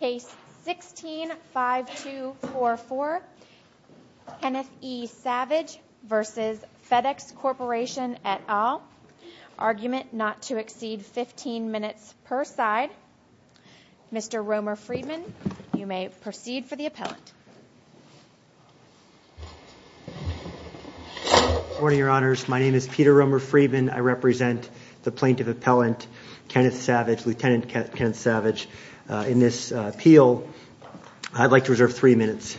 Case 16-5244, Kenneth E. Savage v. FedEx Corporation et al., argument not to exceed 15 minutes per side. Mr. Romer Friedman, you may proceed for the appellant. Good morning, Your Honors. My name is Peter Romer Friedman. I represent the plaintiff appellant, Lieutenant Kenneth Savage, in this appeal. I'd like to reserve three minutes.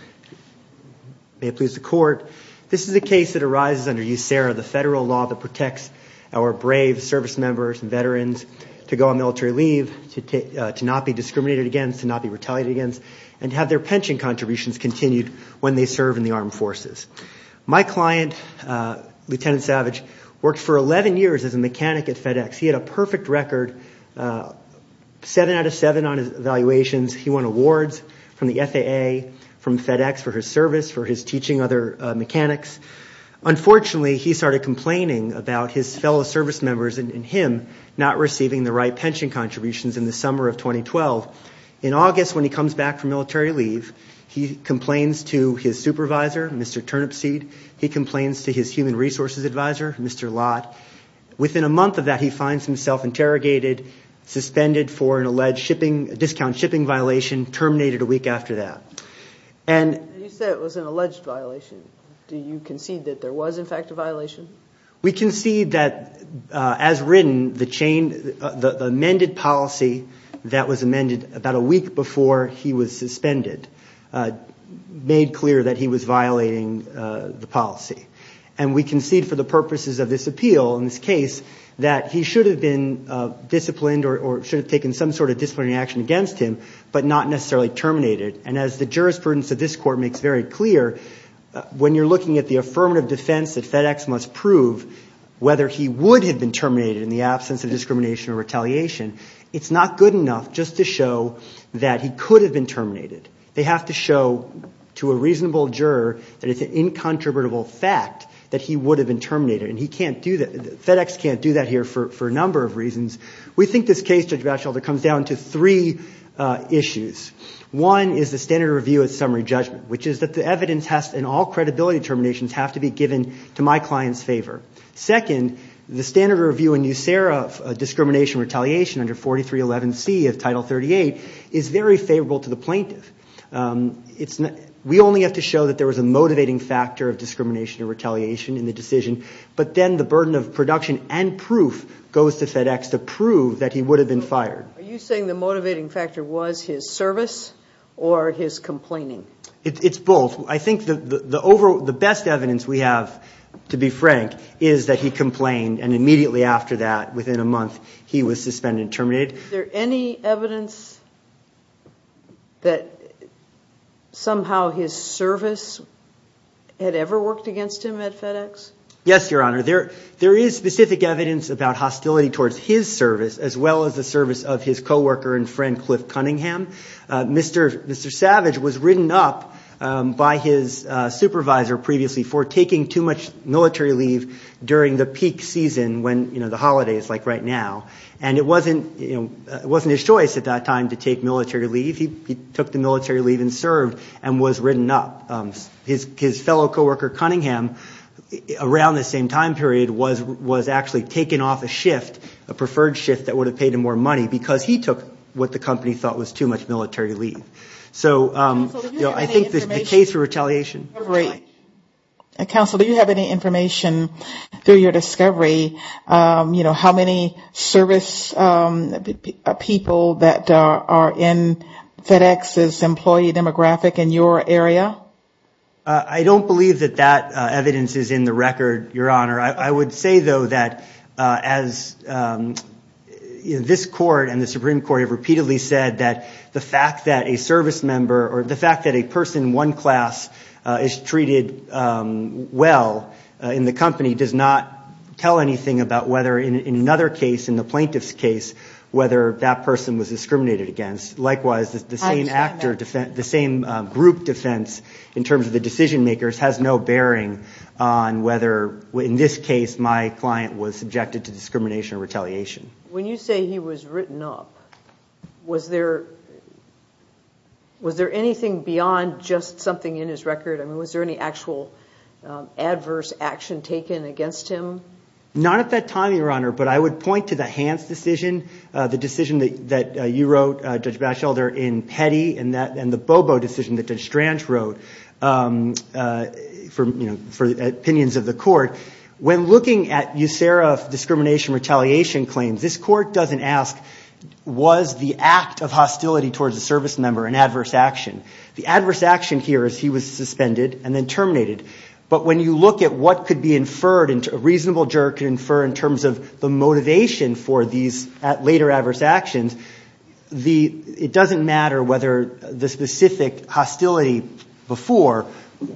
May it please the Court. This is a case that arises under USERRA, the federal law that protects our brave service members and veterans to go on military leave, to not be discriminated against, to not be retaliated against, and to have their pension contributions continued when they serve in the armed forces. My client, Lieutenant Savage, worked for 11 years as a mechanic at FedEx. He had a perfect record, seven out of seven on his evaluations. He won awards from the FAA, from FedEx for his service, for his teaching other mechanics. Unfortunately, he started complaining about his fellow service members and him not receiving the right pension contributions in the summer of 2012. In August, when he comes back from military leave, he complains to his supervisor, Mr. Turnipseed. He complains to his human resources advisor, Mr. Lott. Within a month of that, he finds himself interrogated, suspended for an alleged discount shipping violation, terminated a week after that. You said it was an alleged violation. Do you concede that there was, in fact, a violation? We concede that, as written, the amended policy that was amended about a week before he was suspended made clear that he was violating the policy. And we concede for the purposes of this appeal, in this case, that he should have been disciplined or should have taken some sort of disciplinary action against him but not necessarily terminate it. And as the jurisprudence of this court makes very clear, when you're looking at the affirmative defense that FedEx must prove whether he would have been terminated in the absence of discrimination or retaliation, it's not good enough just to show that he could have been terminated. They have to show to a reasonable juror that it's an incontrovertible fact that he would have been terminated. And FedEx can't do that here for a number of reasons. We think this case, Judge Batchelder, comes down to three issues. One is the standard review of summary judgment, which is that the evidence and all credibility determinations have to be given to my client's favor. Second, the standard review in NUSERA of discrimination and retaliation under 4311C of Title 38 is very favorable to the plaintiff. We only have to show that there was a motivating factor of discrimination or retaliation in the decision, but then the burden of production and proof goes to FedEx to prove that he would have been fired. Are you saying the motivating factor was his service or his complaining? It's both. I think the best evidence we have, to be frank, is that he complained and immediately after that, within a month, he was suspended and terminated. Is there any evidence that somehow his service had ever worked against him at FedEx? Yes, Your Honor. There is specific evidence about hostility towards his service as well as the service of his coworker and friend Cliff Cunningham. Mr. Savage was written up by his supervisor previously for taking too much military leave during the peak season when the holidays, like right now, and it wasn't his choice at that time to take military leave. He took the military leave and served and was written up. His fellow coworker Cunningham, around the same time period, was actually taken off a shift, a preferred shift that would have paid him more money because he took what the company thought was too much military leave. So I think the case for retaliation. Counsel, do you have any information through your discovery, how many service people that are in FedEx's employee demographic in your area? I don't believe that that evidence is in the record, Your Honor. I would say, though, that as this court and the Supreme Court have repeatedly said that the fact that a service member or the fact that a person, one class, is treated well in the company does not tell anything about whether in another case, in the plaintiff's case, whether that person was discriminated against. Likewise, the same group defense, in terms of the decision makers, has no bearing on whether, in this case, my client was subjected to discrimination or retaliation. When you say he was written up, was there anything beyond just something in his record? I mean, was there any actual adverse action taken against him? Not at that time, Your Honor, but I would point to the Hans decision, the decision that you wrote, Judge Batchelder, in Petty, and the Bobo decision that Judge Strange wrote for opinions of the court. When looking at USERRA discrimination retaliation claims, this court doesn't ask, was the act of hostility towards a service member an adverse action? The adverse action here is he was suspended and then terminated. But when you look at what could be inferred, a reasonable juror could infer, in terms of the motivation for these later adverse actions, it doesn't matter whether the specific hostility before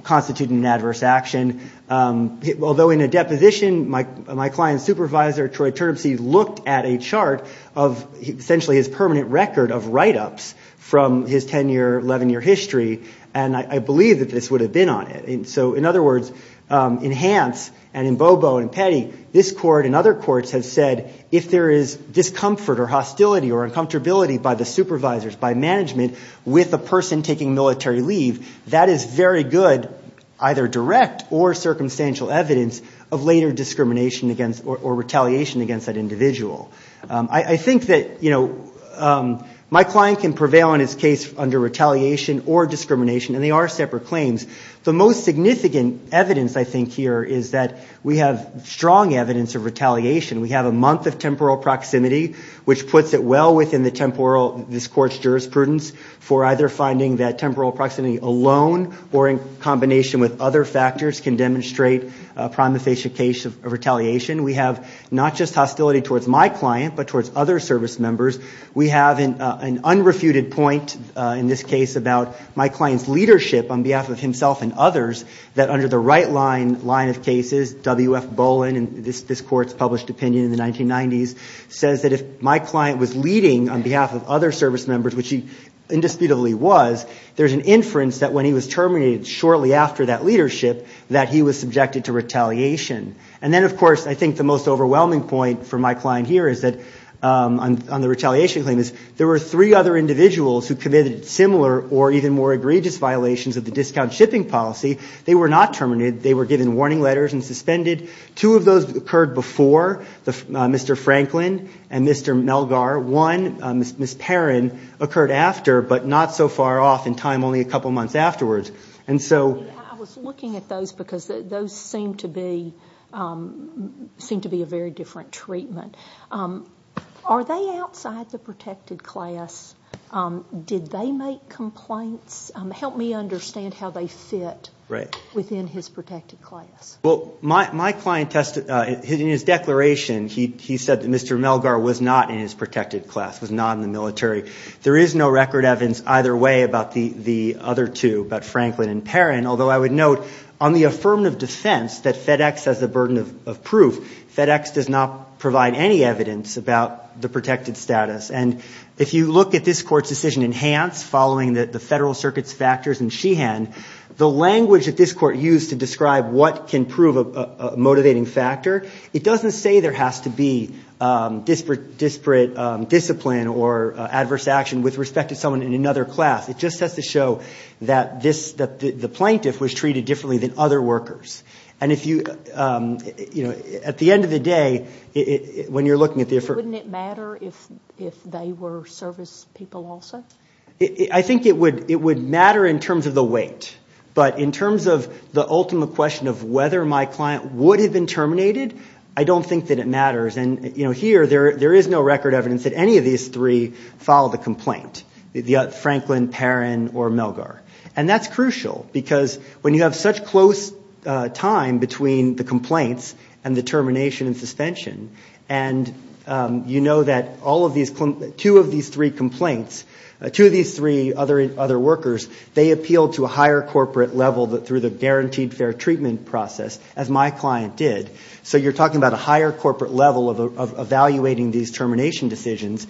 constituted an adverse action. Although in a deposition, my client's supervisor, Troy Turnipseed, looked at a chart of essentially his permanent record of write-ups from his 10-year, 11-year history, and I believe that this would have been on it. So, in other words, in Hans and in Bobo and Petty, this court and other courts have said, if there is discomfort or hostility or uncomfortability by the supervisors, by management, with a person taking military leave, that is very good, either direct or circumstantial evidence, of later discrimination or retaliation against that individual. I think that my client can prevail in his case under retaliation or discrimination, and they are separate claims. The most significant evidence, I think, here is that we have strong evidence of retaliation. We have a month of temporal proximity, which puts it well within this court's jurisprudence for either finding that temporal proximity alone or in combination with other factors can demonstrate a prima facie case of retaliation. We have not just hostility towards my client, but towards other service members. We have an unrefuted point in this case about my client's leadership on behalf of himself and others, that under the right line of cases, W.F. Bowen, and this court's published opinion in the 1990s, says that if my client was leading on behalf of other service members, which he indisputably was, there's an inference that when he was terminated shortly after that leadership, that he was subjected to retaliation. And then, of course, I think the most overwhelming point for my client here is that, on the retaliation claim, is there were three other individuals who committed similar or even more egregious violations of the discount shipping policy. They were not terminated. They were given warning letters and suspended. Two of those occurred before, Mr. Franklin and Mr. Melgar. One, Ms. Perrin, occurred after, but not so far off in time, only a couple months afterwards. And so... I was looking at those because those seem to be a very different treatment. Are they outside the protected class? Did they make complaints? Help me understand how they fit within his protected class. Well, my client, in his declaration, he said that Mr. Melgar was not in his protected class, was not in the military. There is no record evidence either way about the other two, about Franklin and Perrin, although I would note on the affirmative defense that FedEx has the burden of proof. FedEx does not provide any evidence about the protected status. And if you look at this court's decision in Hans, following the Federal Circuit's factors in Sheehan, the language that this court used to describe what can prove a motivating factor, it doesn't say there has to be disparate discipline or adverse action with respect to someone in another class. It just has to show that the plaintiff was treated differently than other workers. And if you, you know, at the end of the day, when you're looking at the affirmative... Wouldn't it matter if they were service people also? I think it would matter in terms of the weight. But in terms of the ultimate question of whether my client would have been terminated, I don't think that it matters. And, you know, here there is no record evidence that any of these three filed a complaint, Franklin, Perrin, or Melgar. And that's crucial because when you have such close time between the complaints and the termination and suspension, and you know that all of these, two of these three complaints, two of these three other workers, they appealed to a higher corporate level through the guaranteed fair treatment process, as my client did. So you're talking about a higher corporate level of evaluating these termination decisions.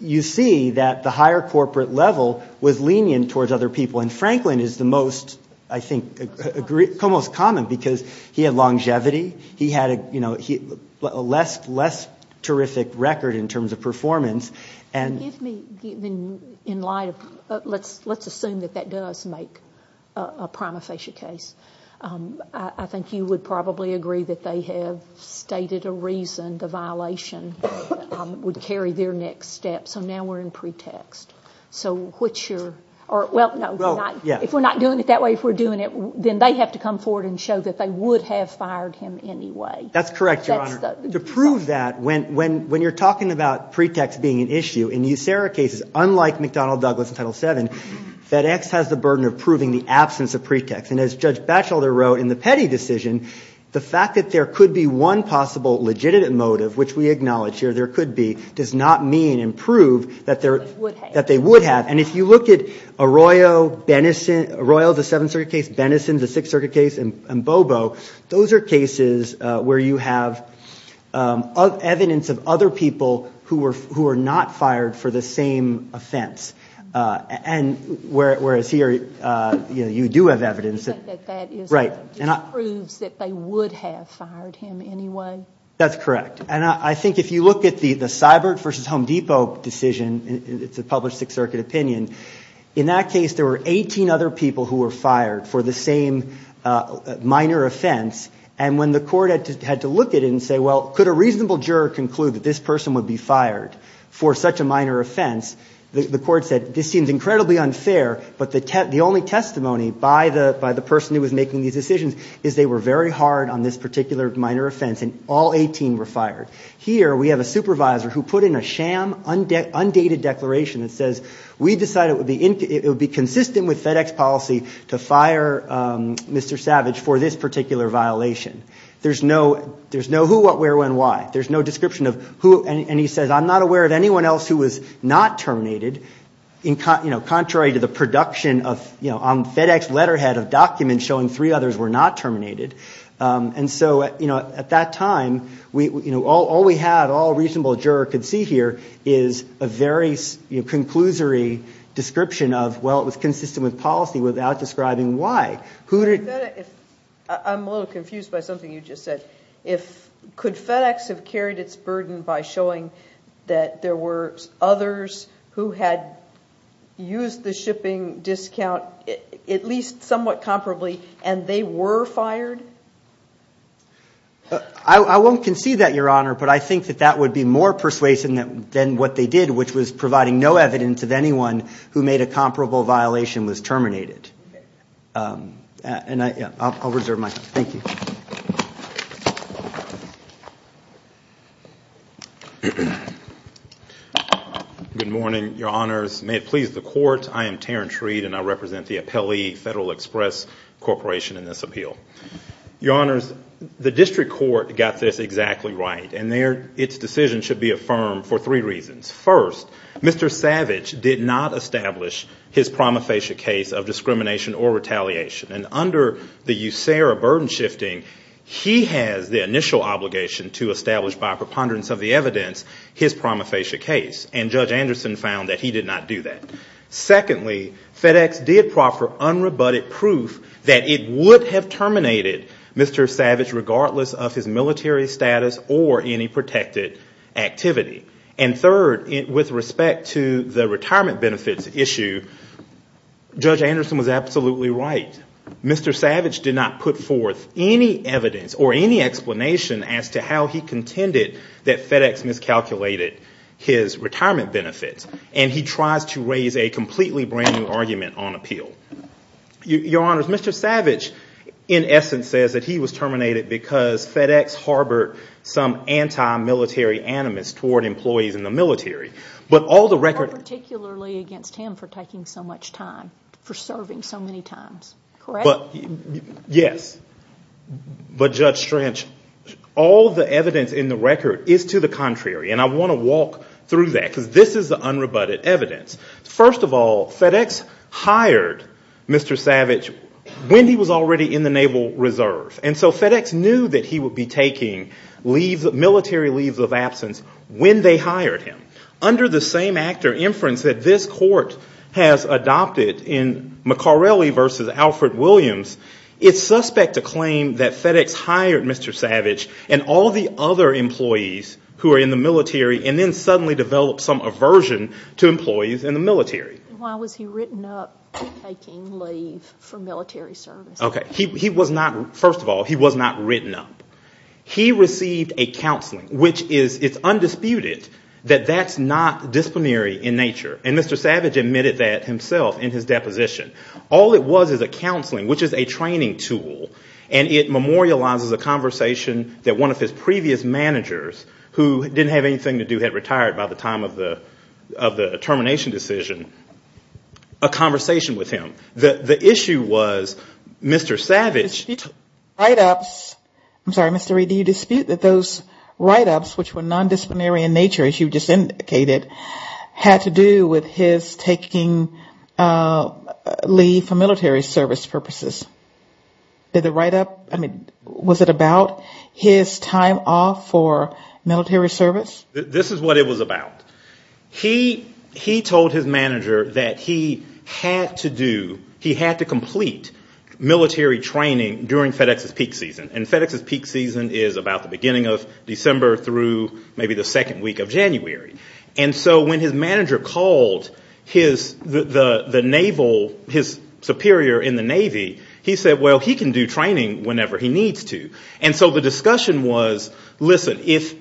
You see that the higher corporate level was lenient towards other people. And Franklin is the most, I think, almost common because he had longevity. He had, you know, a less terrific record in terms of performance. And give me, in light of, let's assume that that does make a prima facie case. I think you would probably agree that they have stated a reason the violation would carry their next step. So now we're in pretext. So what's your, or, well, no. If we're not doing it that way, if we're doing it, then they have to come forward and show that they would have fired him anyway. That's correct, Your Honor. To prove that, when you're talking about pretext being an issue, in the USARA cases, unlike McDonnell Douglas in Title VII, FedEx has the burden of proving the absence of pretext. And as Judge Batchelder wrote in the Petty decision, the fact that there could be one possible legitimate motive, which we acknowledge here there could be, does not mean and prove that they would have. And if you look at Arroyo, Bennison, Arroyo, the Seventh Circuit case, Bennison, the Sixth Circuit case, and Bobo, those are cases where you have evidence of other people who were not fired for the same offense. And whereas here, you know, you do have evidence. But that just proves that they would have fired him anyway. That's correct. And I think if you look at the Seibert v. Home Depot decision, it's a published Sixth Circuit opinion, in that case there were 18 other people who were fired for the same minor offense. And when the court had to look at it and say, well, could a reasonable juror conclude that this person would be fired for such a minor offense, the court said, this seems incredibly unfair. But the only testimony by the person who was making these decisions is they were very hard on this particular minor offense. And all 18 were fired. Here we have a supervisor who put in a sham, undated declaration that says, we decided it would be consistent with FedEx policy to fire Mr. Savage for this particular violation. There's no who, what, where, when, why. There's no description of who. And he says, I'm not aware of anyone else who was not terminated, you know, contrary to the production on FedEx letterhead of documents showing three others were not terminated. And so, you know, at that time, all we had, all a reasonable juror could see here, is a very conclusory description of, well, it was consistent with policy without describing why. I'm a little confused by something you just said. Could FedEx have carried its burden by showing that there were others who had used the shipping discount, at least somewhat comparably, and they were fired? I won't concede that, Your Honor, but I think that that would be more persuasive than what they did, which was providing no evidence of anyone who made a comparable violation was terminated. And I'll reserve my time. Thank you. May it please the Court. I am Tarrin Treed, and I represent the Appellee Federal Express Corporation in this appeal. Your Honors, the district court got this exactly right. And its decision should be affirmed for three reasons. First, Mr. Savage did not establish his prima facie case of discrimination or retaliation. And under the USARA burden shifting, he has the initial obligation to establish, by preponderance of the evidence, his prima facie case. And Judge Anderson found that he did not do that. Secondly, FedEx did proffer unrebutted proof that it would have terminated Mr. Savage, regardless of his military status or any protected activity. And third, with respect to the retirement benefits issue, Judge Anderson was absolutely right. Mr. Savage did not put forth any evidence or any explanation as to how he contended that FedEx miscalculated his retirement benefits. And he tries to raise a completely brand new argument on appeal. Your Honors, Mr. Savage, in essence, says that he was terminated because FedEx harbored some anti-military animus toward employees in the military. But all the record- Not particularly against him for taking so much time, for serving so many times. Correct? Yes. But Judge Strange, all the evidence in the record is to the contrary. And I want to walk through that, because this is the unrebutted evidence. First of all, FedEx hired Mr. Savage when he was already in the Naval Reserve. And so FedEx knew that he would be taking military leaves of absence when they hired him. Under the same act or inference that this Court has adopted in McCarrelly v. Alfred Williams, it's suspect to claim that FedEx hired Mr. Savage and all the other employees who are in the military and then suddenly developed some aversion to employees in the military. Why was he written up for taking leave for military service? Okay. First of all, he was not written up. He received a counseling, which is undisputed that that's not disciplinary in nature. And Mr. Savage admitted that himself in his deposition. All it was is a counseling, which is a training tool, and it memorializes a conversation that one of his previous managers, who didn't have anything to do, had retired by the time of the termination decision, a conversation with him. The issue was Mr. Savage. He took write-ups. I'm sorry, Mr. Reed, do you dispute that those write-ups, which were nondisciplinary in nature, as you just indicated, had to do with his taking leave for military service purposes? Did the write-up, I mean, was it about his time off for military service? This is what it was about. He told his manager that he had to do, he had to complete military training during FedEx's peak season. And FedEx's peak season is about the beginning of December through maybe the second week of January. And so when his manager called his superior in the Navy, he said, well, he can do training whenever he needs to. And so the discussion was, listen, if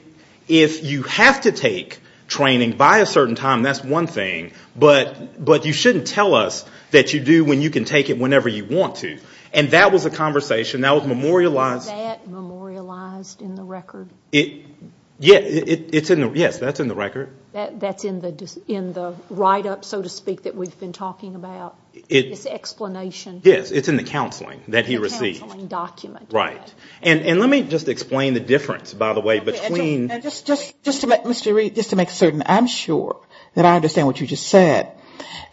you have to take training by a certain time, that's one thing, but you shouldn't tell us that you do when you can take it whenever you want to. And that was a conversation that was memorialized. Was that memorialized in the record? Yes, that's in the record. That's in the write-up, so to speak, that we've been talking about, this explanation? Yes, it's in the counseling that he received. The counseling document. Right. And let me just explain the difference, by the way, between Just to make certain I'm sure that I understand what you just said.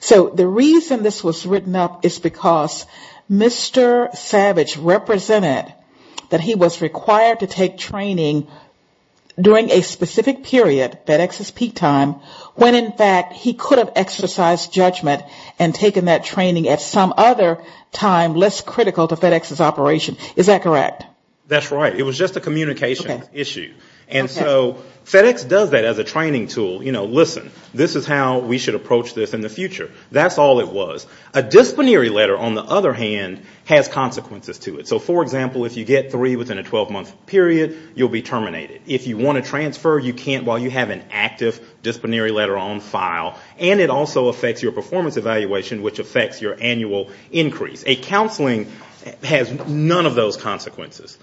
So the reason this was written up is because Mr. Savage represented that he was required to take training during a specific period, FedEx's peak time, when in fact he could have exercised judgment and taken that training at some other time less critical to FedEx's operation. Is that correct? That's right. It was just a communication issue. And so FedEx does that as a training tool. You know, listen, this is how we should approach this in the future. That's all it was. A disciplinary letter, on the other hand, has consequences to it. So, for example, if you get three within a 12-month period, you'll be terminated. If you want to transfer, you can't while you have an active disciplinary letter on file. And it also affects your performance evaluation, which affects your annual increase. A counseling has none of those consequences.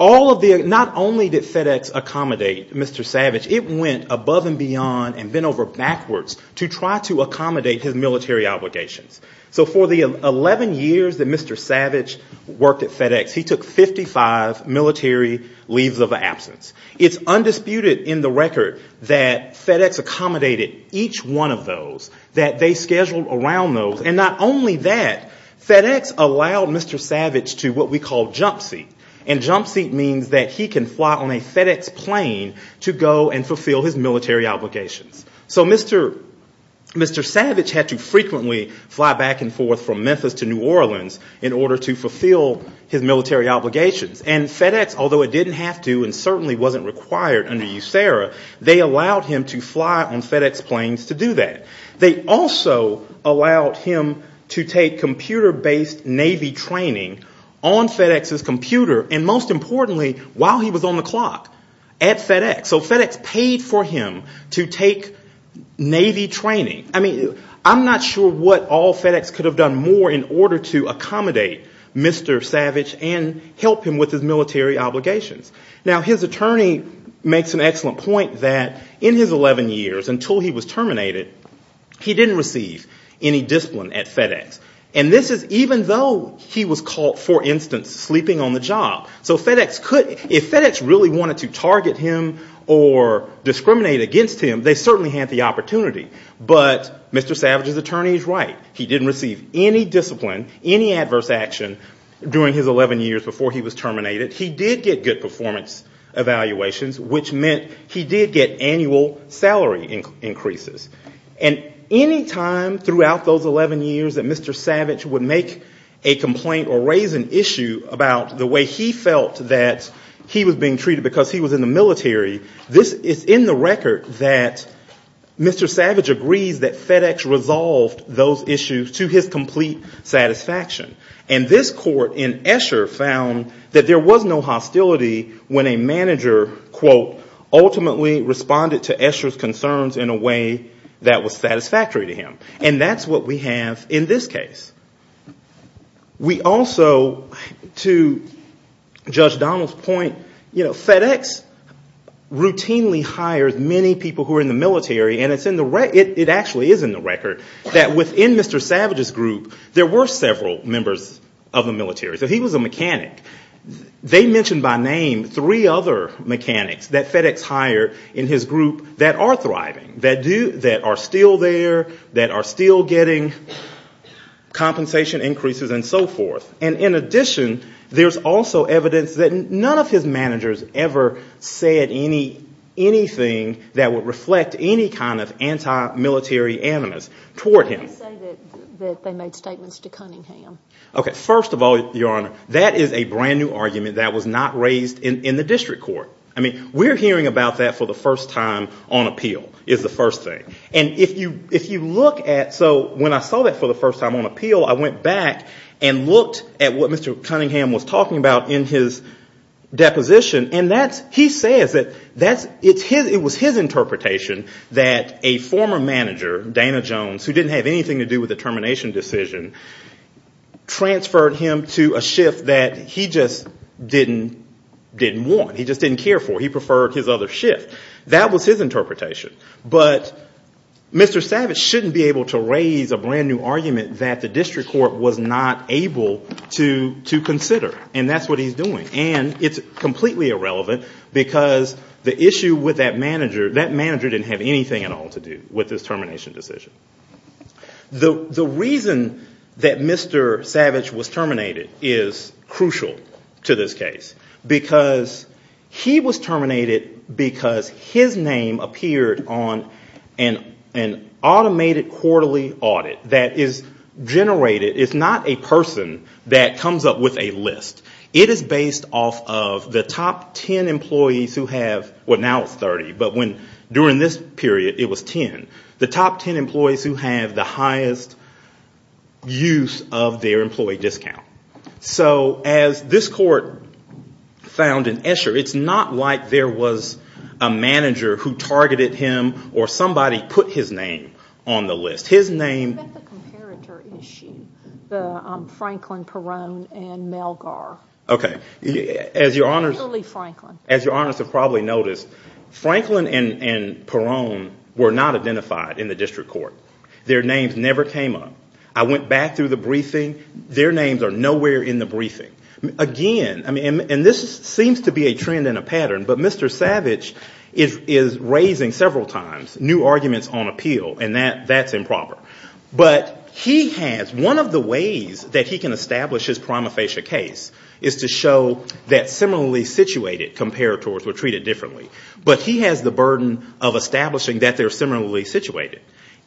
Not only did FedEx accommodate Mr. Savage, it went above and beyond and bent over backwards to try to accommodate his military obligations. So for the 11 years that Mr. Savage worked at FedEx, he took 55 military leaves of absence. It's undisputed in the record that FedEx accommodated each one of those, that they scheduled around those, and not only that, FedEx allowed Mr. Savage to what we call jump seat. And jump seat means that he can fly on a FedEx plane to go and fulfill his military obligations. So Mr. Savage had to frequently fly back and forth from Memphis to New Orleans in order to fulfill his military obligations. And FedEx, although it didn't have to and certainly wasn't required under USERRA, they allowed him to fly on FedEx planes to do that. They also allowed him to take computer-based Navy training on FedEx's computer, and most importantly, while he was on the clock at FedEx. So FedEx paid for him to take Navy training. I mean, I'm not sure what all FedEx could have done more in order to accommodate Mr. Savage and help him with his military obligations. Now, his attorney makes an excellent point that in his 11 years, until he was terminated, he didn't have any military obligations. He didn't receive any discipline at FedEx. And this is even though he was caught, for instance, sleeping on the job. So FedEx could, if FedEx really wanted to target him or discriminate against him, they certainly had the opportunity. But Mr. Savage's attorney is right. He didn't receive any discipline, any adverse action during his 11 years before he was terminated. He did get good performance evaluations, which meant he did get annual salary increases. And any time throughout those 11 years that Mr. Savage would make a complaint or raise an issue about the way he felt that he was being treated because he was in the military, this is in the record that Mr. Savage agrees that FedEx resolved those issues to his complete satisfaction. And this court in Escher found that there was no hostility when a manager, quote, ultimately responded to Escher's concerns in a way that was satisfactory. And that's what we have in this case. We also, to Judge Donald's point, FedEx routinely hires many people who are in the military, and it actually is in the record, that within Mr. Savage's group, there were several members of the military. So he was a mechanic. They mentioned by name three other mechanics that FedEx hired in his group that are thriving, that are still there, that are in the military. That are still getting compensation increases and so forth. And in addition, there's also evidence that none of his managers ever said anything that would reflect any kind of anti-military animus toward him. Why do you say that they made statements to Cunningham? Okay, first of all, Your Honor, that is a brand new argument that was not raised in the district court. I mean, we're hearing about that for the first time on appeal, is the first thing. And if you look at, so when I saw that for the first time on appeal, I went back and looked at what Mr. Cunningham was talking about in his deposition, and he says that it was his interpretation that a former manager, Dana Jones, who didn't have anything to do with the termination decision, transferred him to a shift that he just didn't want. He just didn't care for. He preferred his other shift. That was his interpretation. But Mr. Savage shouldn't be able to raise a brand new argument that the district court was not able to consider. And that's what he's doing. And it's completely irrelevant because the issue with that manager, that manager didn't have anything at all to do with this termination decision. The reason that Mr. Savage was terminated is crucial to this case. Because he was terminated because his name appeared on an automated quarterly audit that is generated. It's not a person that comes up with a list. It is based off of the top 10 employees who have, well now it's 30, but during this period it was 10, the top 10 employees who have the highest use of their employee discount. So as this court found in Escher, it's not like there was a manager who targeted him or somebody put his name on the list. His name... Okay. As your honors have probably noticed, Franklin and Perone were not identified in the district court. Their names never came up. I went back through the briefing. Their names are nowhere in the briefing. Again, and this seems to be a trend and a pattern, but Mr. Savage is raising several times new arguments on appeal. And that's improper. But he has, one of the ways that he can establish his prima facie case is to show that similarly situated comparators were treated differently. But he has the burden of establishing that they're similarly situated.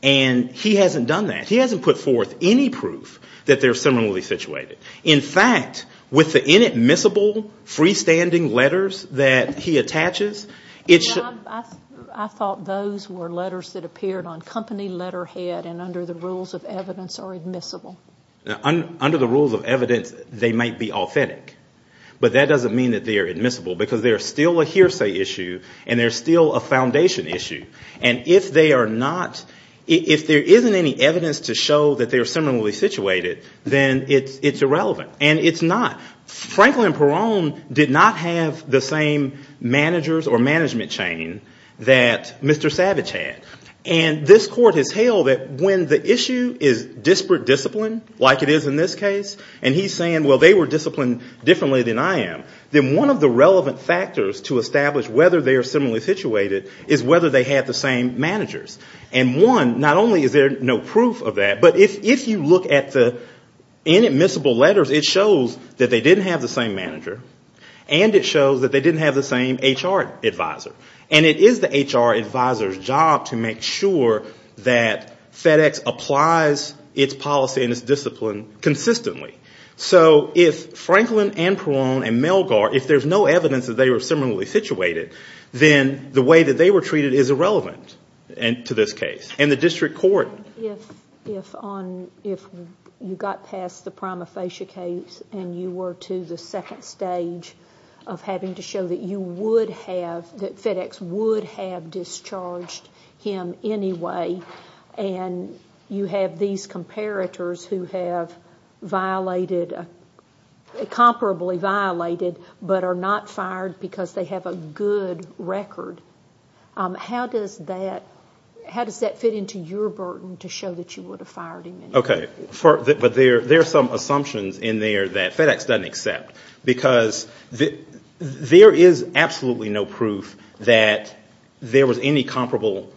And he hasn't done that. He hasn't put forth any proof that they're similarly situated. In fact, with the inadmissible freestanding letters that he attaches, it should... I thought those were letters that appeared on company letterhead and under the rules of evidence are admissible. Under the rules of evidence, they might be authentic. But that doesn't mean that they're admissible. Because they're still a hearsay issue and they're still a foundation issue. And if they are not, if there isn't any evidence to show that they're similarly situated, then it's irrelevant. And it's not. Franklin Peron did not have the same managers or management chain that Mr. Savage had. And this court has held that when the issue is disparate discipline, like it is in this case, and he's saying, well, they were disciplined differently than I am, then one of the relevant factors to establish whether they are similarly situated is whether they had the same management chain. And one, not only is there no proof of that, but if you look at the inadmissible letters, it shows that they didn't have the same manager. And it shows that they didn't have the same HR advisor. And it is the HR advisor's job to make sure that FedEx applies its policy and its discipline consistently. So if Franklin and Peron and Melgar, if there's no evidence that they were similarly situated, then the way that they were treated is irrelevant. And to this case. And the district court... If you got past the prima facie case and you were to the second stage of having to show that you would have, that FedEx would have discharged him anyway, and you have these comparators who have violated, comparably violated, but are not fired because they have a good record, how does that compare? How does that fit into your burden to show that you would have fired him anyway? Okay. But there are some assumptions in there that FedEx doesn't accept. Because there is absolutely no proof that there was any comparable,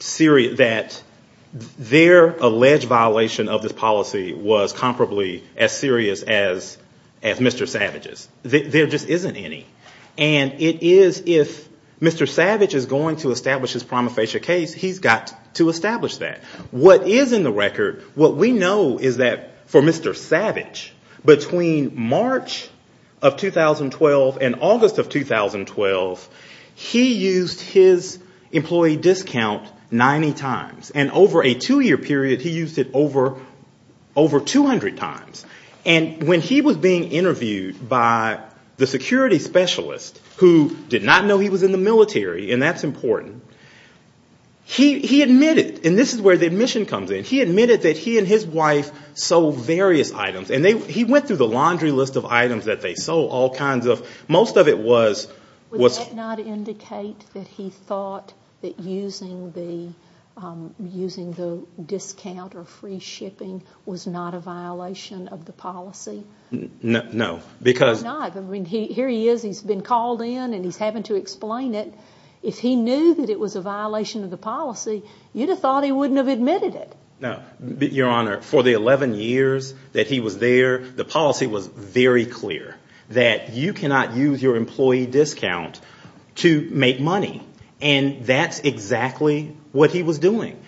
that their alleged violation of this policy was comparably as serious as Mr. Savage's. There just isn't any. And it is, if Mr. Savage is going to establish his prima facie case, he's got to establish that. What is in the record, what we know is that for Mr. Savage, between March of 2012 and August of 2012, he used his employee discount 90 times. And over a two-year period, he used it over 200 times. And when he was being interviewed by the security specialist, he was being interviewed by the FBI. And the FBI specialist, who did not know he was in the military, and that's important, he admitted, and this is where the admission comes in, he admitted that he and his wife sold various items. And he went through the laundry list of items that they sold, all kinds of, most of it was... Would that not indicate that he thought that using the discount or free shipping was not a violation of the policy? No, because... Why not? I mean, here he is, he's been called in and he's having to explain it. If he knew that it was a violation of the policy, you'd have thought he wouldn't have admitted it. No. Your Honor, for the 11 years that he was there, the policy was very clear, that you cannot use your employee discount to make money. And that's exactly what he was doing.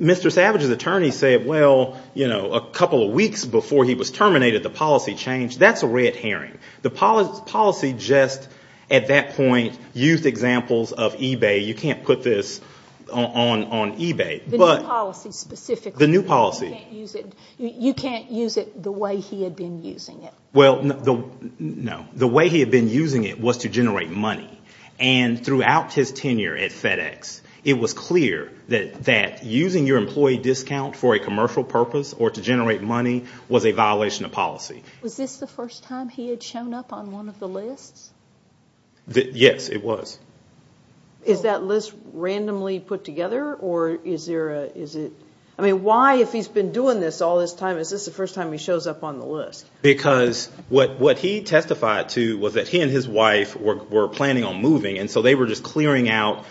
Mr. Savage's attorney said, well, you know, a couple of weeks before he was terminated the policy, the policy changed. That's a red herring. The policy just, at that point, used examples of eBay. You can't put this on eBay. The new policy specifically. The new policy. You can't use it the way he had been using it. Well, no. The way he had been using it was to generate money. And throughout his tenure at FedEx, it was clear that using your employee discount for a commercial purpose or to generate money was a violation of policy. Was this the first time he had shown up on one of the lists? Yes, it was. Is that list randomly put together? I mean, why, if he's been doing this all this time, is this the first time he shows up on the list? Because what he testified to was that he and his wife were planning on moving. And so they were just clearing out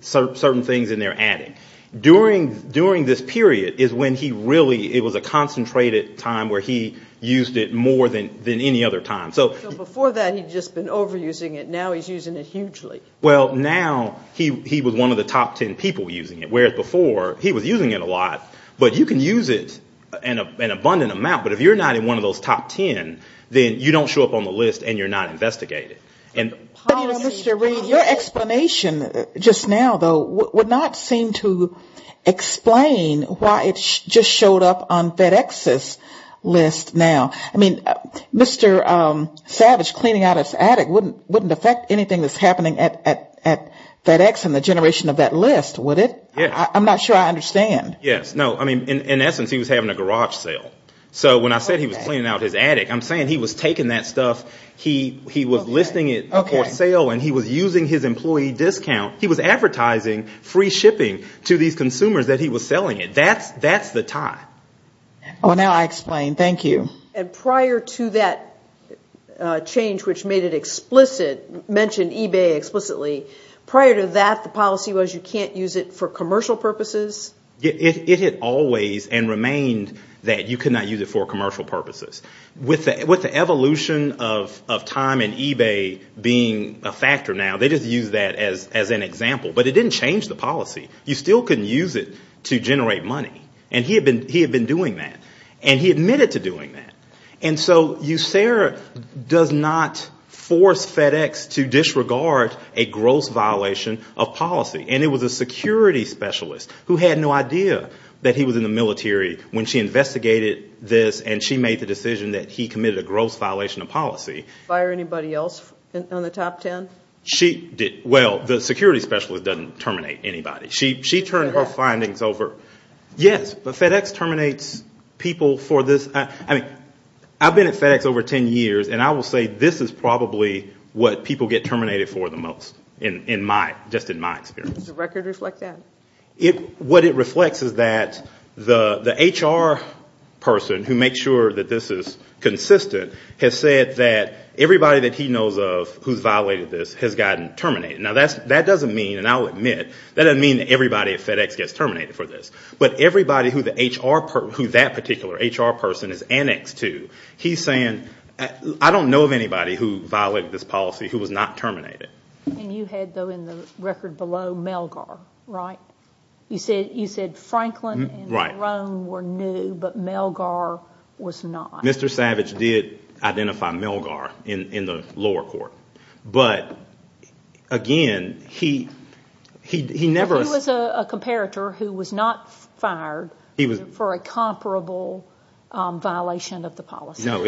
certain things in their adding. During this period is when he really, it was a concentrated time where he used it more to generate money. More than any other time. So before that, he'd just been overusing it. Now he's using it hugely. Well, now he was one of the top ten people using it. Whereas before, he was using it a lot. But you can use it an abundant amount. But if you're not in one of those top ten, then you don't show up on the list and you're not investigated. But you know, Mr. Reed, your explanation just now, though, would not seem to explain why it just showed up on FedEx's list now. Mr. Savage cleaning out his attic wouldn't affect anything that's happening at FedEx and the generation of that list, would it? I'm not sure I understand. Yes. No. I mean, in essence, he was having a garage sale. So when I said he was cleaning out his attic, I'm saying he was taking that stuff, he was listing it for sale and he was using his employee discount. He was advertising free shipping to these consumers that he was selling it. That's the tie. Well, now I explain. Thank you. And prior to that change, which made it explicit, mentioned eBay explicitly, prior to that the policy was you can't use it for commercial purposes? It had always and remained that you could not use it for commercial purposes. With the evolution of time and eBay being a factor now, they just use that as an example. But it didn't change the policy. You still couldn't use it to generate money. And he had been doing that. And he admitted to doing that. And so USERA does not force FedEx to disregard a gross violation of policy. And it was a security specialist who had no idea that he was in the military when she investigated this and she made the decision that he committed a gross violation of policy. Fire anybody else on the top ten? Well, the security specialist doesn't terminate anybody. She turned her findings over. Yes, but FedEx terminates people for this. I've been at FedEx over ten years and I will say this is probably what people get terminated for the most, just in my experience. Does the record reflect that? What it reflects is that the HR person who makes sure that this is consistent has said that everybody that he knows of who's violated this has gotten terminated. Now that doesn't mean, and I'll admit, that doesn't mean that everybody at FedEx gets terminated for this. But everybody who that particular HR person is annexed to, he's saying, I don't know of anybody who violated this policy who was not terminated. And you had, though, in the record below, Melgar, right? You said Franklin and Jerome were new, but Melgar was not. Mr. Savage did identify Melgar in the lower court. But, again, he never... He was a comparator who was not fired for a comparable violation of the policy. No,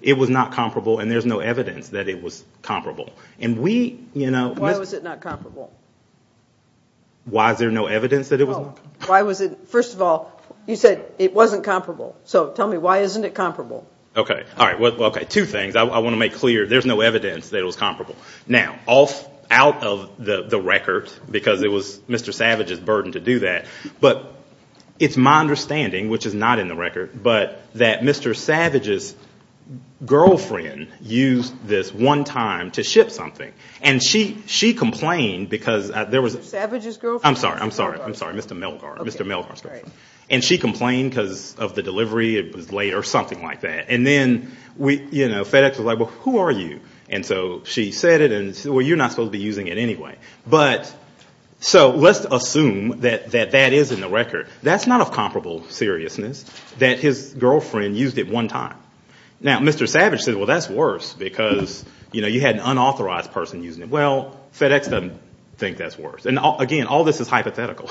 it was not comparable and there's no evidence that it was comparable. Why was it not comparable? Why is there no evidence that it was? First of all, you said it wasn't comparable. So tell me, why isn't it comparable? Okay, two things. I want to make clear there's no evidence that it was comparable. Now, out of the record, because it was Mr. Savage's burden to do that, but it's my understanding, which is not in the record, but that Mr. Savage's girlfriend used this one time to ship something. And she complained because there was... Mr. Savage's girlfriend? I'm sorry, Mr. Melgar's girlfriend. And she complained because of the delivery, it was late or something like that. And then FedEx was like, well, who are you? And so she said it and said, well, you're not supposed to be using it anyway. So let's assume that that is in the record. That's not a comparable seriousness that his girlfriend used it one time. Now, Mr. Savage said, well, that's worse because you had an unauthorized person using it. Well, FedEx doesn't think that's worse. And again, all this is hypothetical.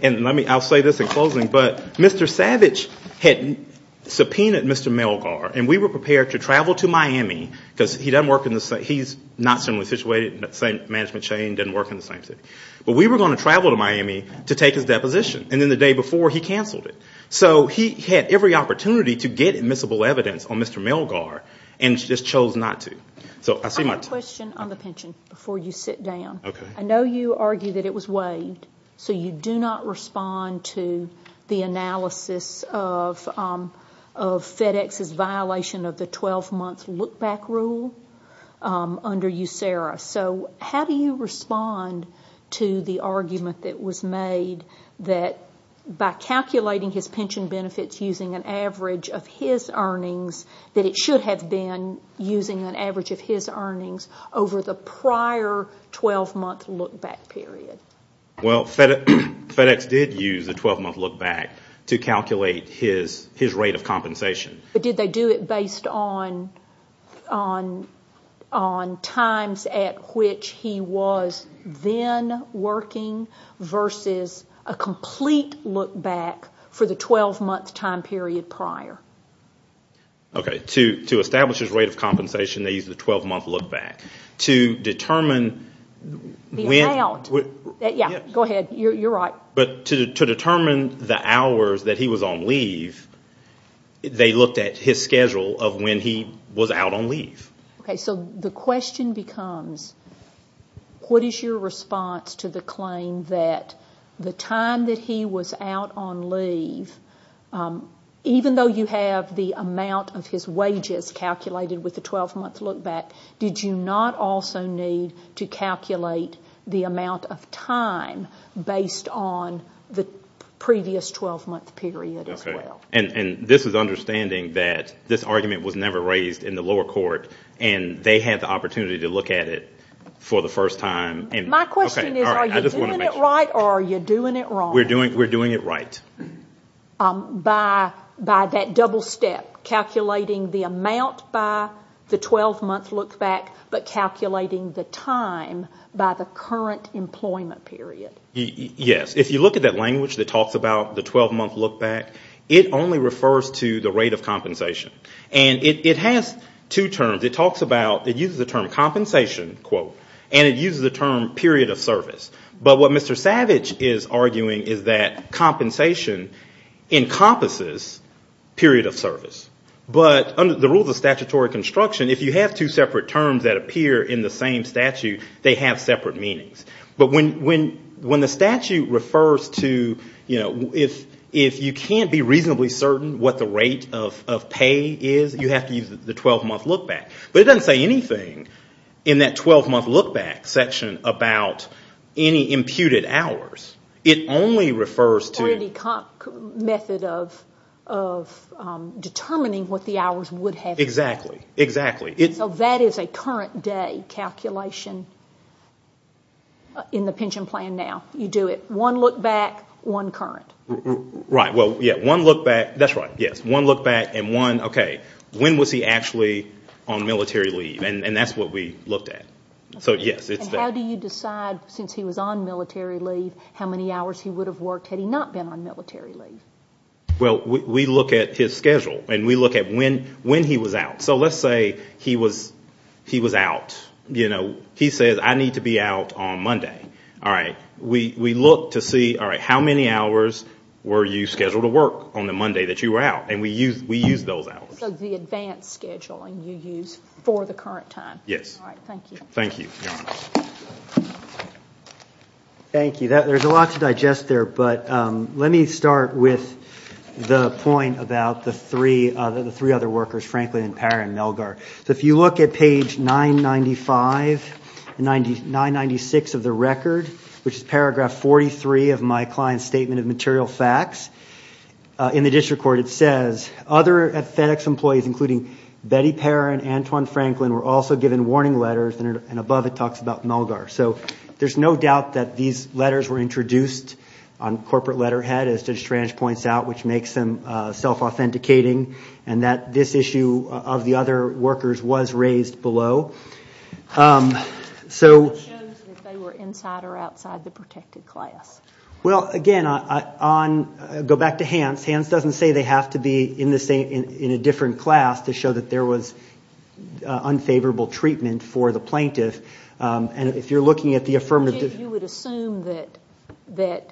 And I'll say this in closing, but Mr. Savage had subpoenaed Mr. Melgar and we were prepared to travel to Miami because he's not similarly situated in the same management chain, doesn't work in the same city. But we were going to travel to Miami to take his deposition. And then the day before, he canceled it. So he had every opportunity to get admissible evidence on Mr. Melgar and just chose not to. I have a question on the pension before you sit down. I know you argue that it was waived. So you do not respond to the analysis of FedEx's violation of the 12-month look-back rule under USERRA. So how do you respond to the argument that was made that by calculating his pension benefits using an average of his earnings, that it should have been using an average of his earnings over the prior 12-month look-back period? Well, FedEx did use the 12-month look-back to calculate his rate of compensation. But did they do it based on times at which he was then working versus a complete look-back for the 12-month time period prior? To establish his rate of compensation, they used the 12-month look-back. To determine the hours that he was on leave, they looked at his schedule of when he was out on leave. So the question becomes, what is your response to the claim that even though you have the amount of his wages calculated with the 12-month look-back, did you not also need to calculate the amount of time based on the previous 12-month period as well? And this is understanding that this argument was never raised in the lower court and they had the opportunity to look at it for the first time. My question is, are you doing it right or are you doing it wrong? We're doing it right. By that double step, calculating the amount by the 12-month look-back but calculating the time by the current employment period? Yes. If you look at that language that talks about the 12-month look-back, it only refers to the rate of compensation. And it has two terms. It uses the term compensation, quote, and it uses the term period of service. But what Mr. Savage is arguing is that compensation encompasses period of service. But under the rules of statutory construction, if you have two separate terms that appear in the same statute, they have separate meanings. But when the statute refers to, if you can't be reasonably certain what the rate of pay is, you have to use the 12-month look-back. But it doesn't say anything in that 12-month look-back section about any imputed hours. It only refers to... Or any method of determining what the hours would have been. Exactly. So that is a current day calculation in the pension plan now. You do it one look-back, one current. Right. Well, yes. One look-back and one, okay, when was he actually on military leave? And that's what we looked at. And how do you decide, since he was on military leave, how many hours he would have worked had he not been on military leave? Well, we look at his schedule. And we look at when he was out. So let's say he was out. He says, I need to be out on Monday. We look to see, all right, how many hours were you scheduled to work on the Monday that you were out? And we use those hours. So the advanced scheduling you use for the current time. Yes. Thank you. Thank you. There's a lot to digest there, but let me start with the point about the three other workers, Franklin and Parr and Melgar. So if you look at page 996 of the record, which is paragraph 43 of my client's statement of material facts, in the district court it says, Other FedEx employees, including Betty Parr and Antoine Franklin, were also given warning letters. And above it talks about Melgar. So there's no doubt that these letters were introduced on corporate letterhead, as Judge Tranche points out, which makes them self-authenticating, and that this issue of the other workers was raised below. So it shows that they were inside or outside the protected class. Well, again, I'll go back to Hans. Hans doesn't say they have to be in a different class to show that there was unfavorable treatment for the plaintiff. And if you're looking at the affirmative... You would assume that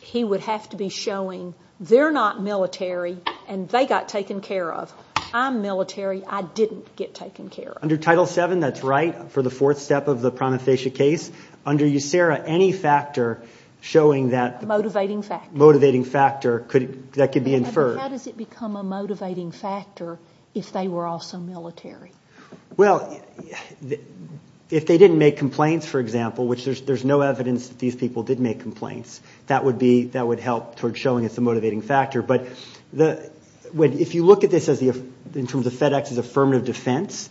he would have to be showing they're not military and they got taken care of. I'm military. I didn't get taken care of. Under Title VII, that's right, for the fourth step of the Prometheus case. Under USERRA, any factor showing that... Motivating factor. How does it become a motivating factor if they were also military? Well, if they didn't make complaints, for example, which there's no evidence that these people did make complaints, that would help toward showing it's a motivating factor. But if you look at this in terms of FedEx's affirmative defense,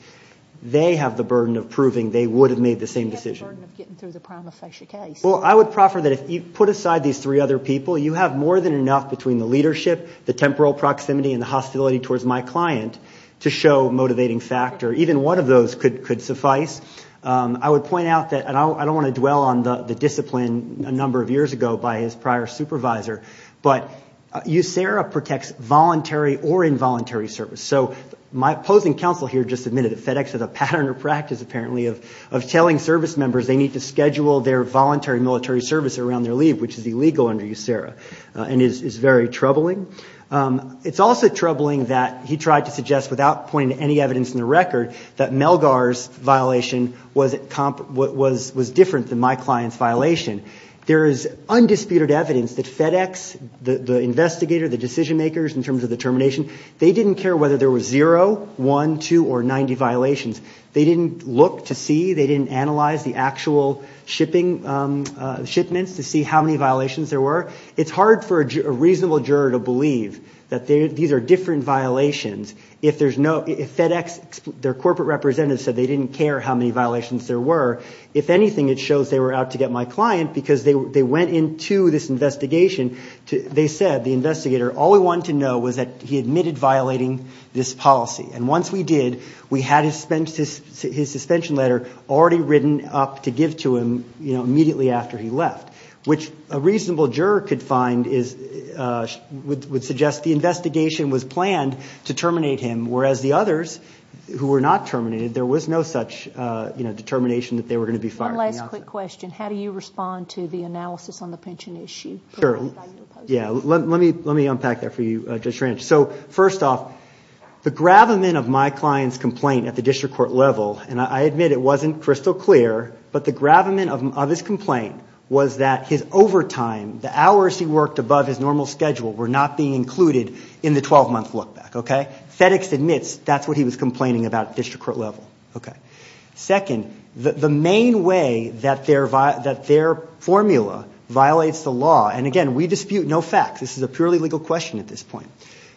they have the burden of proving they would have made the same decision. They have the burden of getting through the Prometheus case. Well, I would proffer that if you put aside these three other people, you have more than enough between the leadership, the temporal proximity, and the hostility towards my client to show motivating factor. Even one of those could suffice. I would point out that, and I don't want to dwell on the discipline a number of years ago by his prior supervisor, but USERRA protects voluntary or involuntary service. So my opposing counsel here just admitted that FedEx has a pattern or practice, apparently, of telling service members they need to schedule their voluntary military service around their leave, which is illegal under USERRA and is very troubling. It's also troubling that he tried to suggest, without pointing to any evidence in the record, that Melgar's violation was different than my client's violation. There is undisputed evidence that FedEx, the investigator, the decision makers in terms of the termination, they didn't care whether there was zero, one, two, or 90 violations. They didn't look to see, they didn't analyze the actual shipments to see how many violations there were. It's hard for a reasonable juror to believe that these are different violations. If FedEx, their corporate representatives said they didn't care how many violations there were, if anything, it shows they were out to get my client because they went into this investigation. They said, the investigator, all we wanted to know was that he admitted violating this policy. Once we did, we had his suspension letter already written up to give to him immediately after he left, which a reasonable juror would suggest the investigation was planned to terminate him, whereas the others, who were not terminated, there was no such determination that they were going to be fired. One last quick question. How do you respond to the analysis on the pension issue? Let me unpack that for you, Judge Ranch. First off, the gravamen of my client's complaint at the district court level, and I admit it wasn't crystal clear, but the gravamen of his complaint was that his overtime, the hours he worked above his normal schedule were not being included in the 12-month look-back. FedEx admits that's what he was complaining about at district court level. Second, the main way that their formula violates the law and, again, we dispute no fact, this is a purely legal question at this point,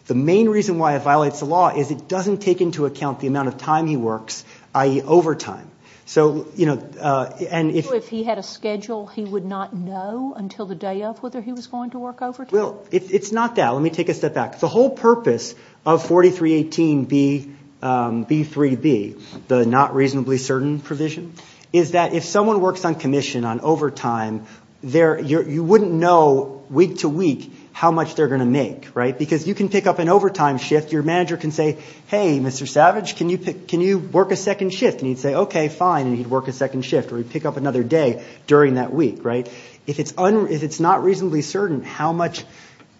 the main reason why it violates the law is it doesn't take into account the amount of time he works, i.e., overtime. So, you know, and if... So if he had a schedule, he would not know until the day of whether he was going to work overtime? Well, it's not that. Let me take a step back. The whole purpose of 4318B, B3B, the not reasonably certain provision, is that if someone works on commission on overtime, you wouldn't know week to week how much they're going to make, right? Because you can pick up an overtime shift, your manager can say, hey, Mr. Savage, can you work a second shift? And he'd say, okay, fine, and he'd work a second shift, or he'd pick up another day during that week, right? If it's not reasonably certain how much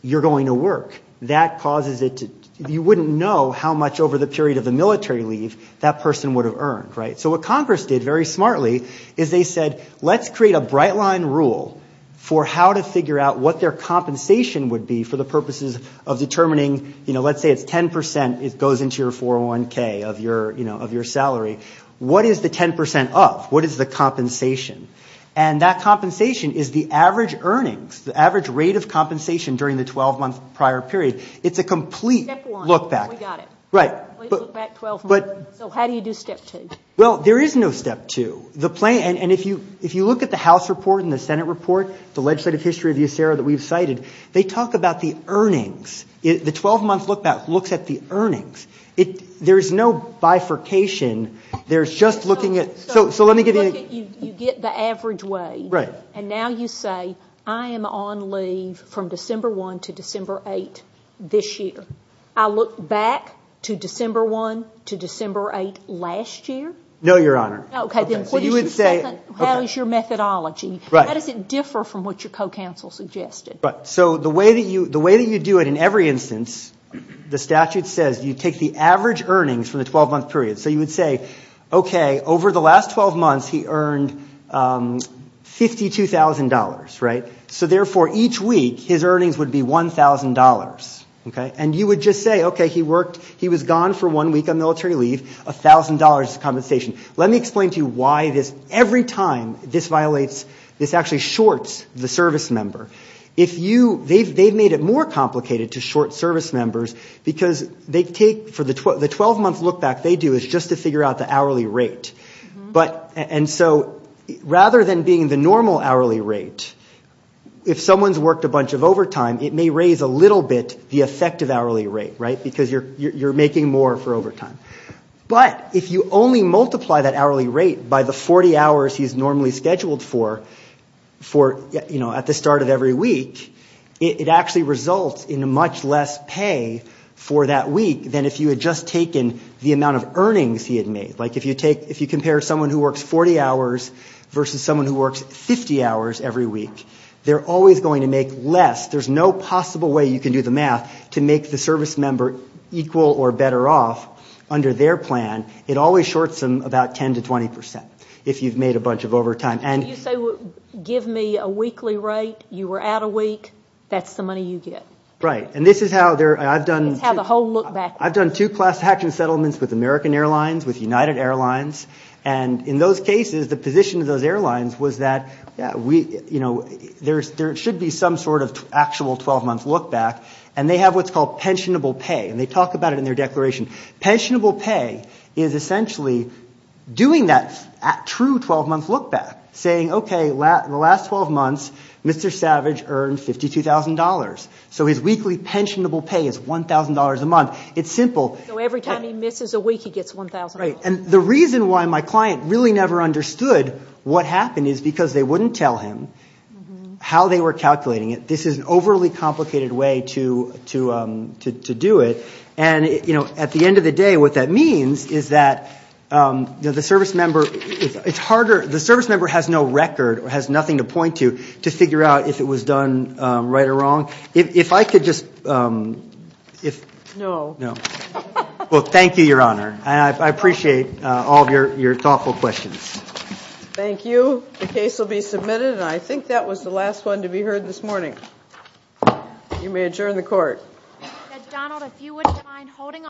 you're going to work, that causes it to... you wouldn't know how much over the period of the military leave that person would have earned, right? So what Congress did very smartly is they said, let's create a bright line rule for how to figure out what their compensation would be for the purposes of determining, you know, let's say it's 10%, it goes into your 401K of your, you know, of your salary. What is the 10% of? What is the compensation? And that compensation is the average earnings, the average rate of compensation during the 12-month prior period. It's a complete look back. Step one, we got it. We look back 12 months. So how do you do step two? Well, there is no step two. And if you look at the House report and the Senate report, the legislative history of USARA that we've cited, they talk about the earnings. The 12-month look back looks at the earnings. There is no bifurcation. There's just looking at... So let me give you... You get the average wage, and now you say, I am on leave from December 1 to December 8 this year. I look back to December 1 to December 8 last year? No, Your Honor. How is your methodology? How does it differ from what your co-counsel suggested? So the way that you do it in every instance, the statute says you take the average earnings from the 12-month period. So you would say, okay, over the last 12 months, he earned $52,000, right? So therefore, each week, his earnings would be $1,000. And you would just say, okay, he was gone for one week on military leave. $1,000 is the compensation. Let me explain to you why this, every time this violates, this actually shorts the service member. They've made it more complicated to short service members because the 12-month look back they do is just to figure out the hourly rate. And so rather than being the normal hourly rate, if someone's worked a bunch of overtime, it may raise a little bit the effective hourly rate, right? Because you're making more for overtime. But if you only multiply that hourly rate by the 40 hours he's normally scheduled for, at the start of every week, it actually results in much less pay for that week than if you had just taken the amount of earnings he had made. Like if you compare someone who works 40 hours versus someone who works 50 hours every week, they're always going to make less. There's no possible way you can do the math to make the service member equal or better off under their plan. It always shorts them about 10 to 20 percent if you've made a bunch of overtime. And you say, give me a weekly rate. You were out a week. That's the money you get. Right. And this is how I've done two class action settlements with American Airlines, with United Airlines. And in those cases, the position of those airlines was that there should be some sort of actual 12-month look-back. And they have what's called pensionable pay. And they talk about it in their declaration. Pensionable pay is essentially doing that true 12-month look-back, saying, okay, in the last 12 months, Mr. Savage earned $52,000. So his weekly pensionable pay is $1,000 a month. It's simple. So every time he misses a week, he gets $1,000. Right. And the reason why my client really never understood what happened is because they wouldn't tell him how they were calculating it. This is an overly complicated way to do it. And at the end of the day, what that means is that the service member has no record or has nothing to point to to figure out if it was done right or wrong. If I could just... No. Well, thank you, Your Honor. And I appreciate all of your thoughtful questions. Thank you. The case will be submitted. And I think that was the last one to be heard this morning. You may adjourn the court.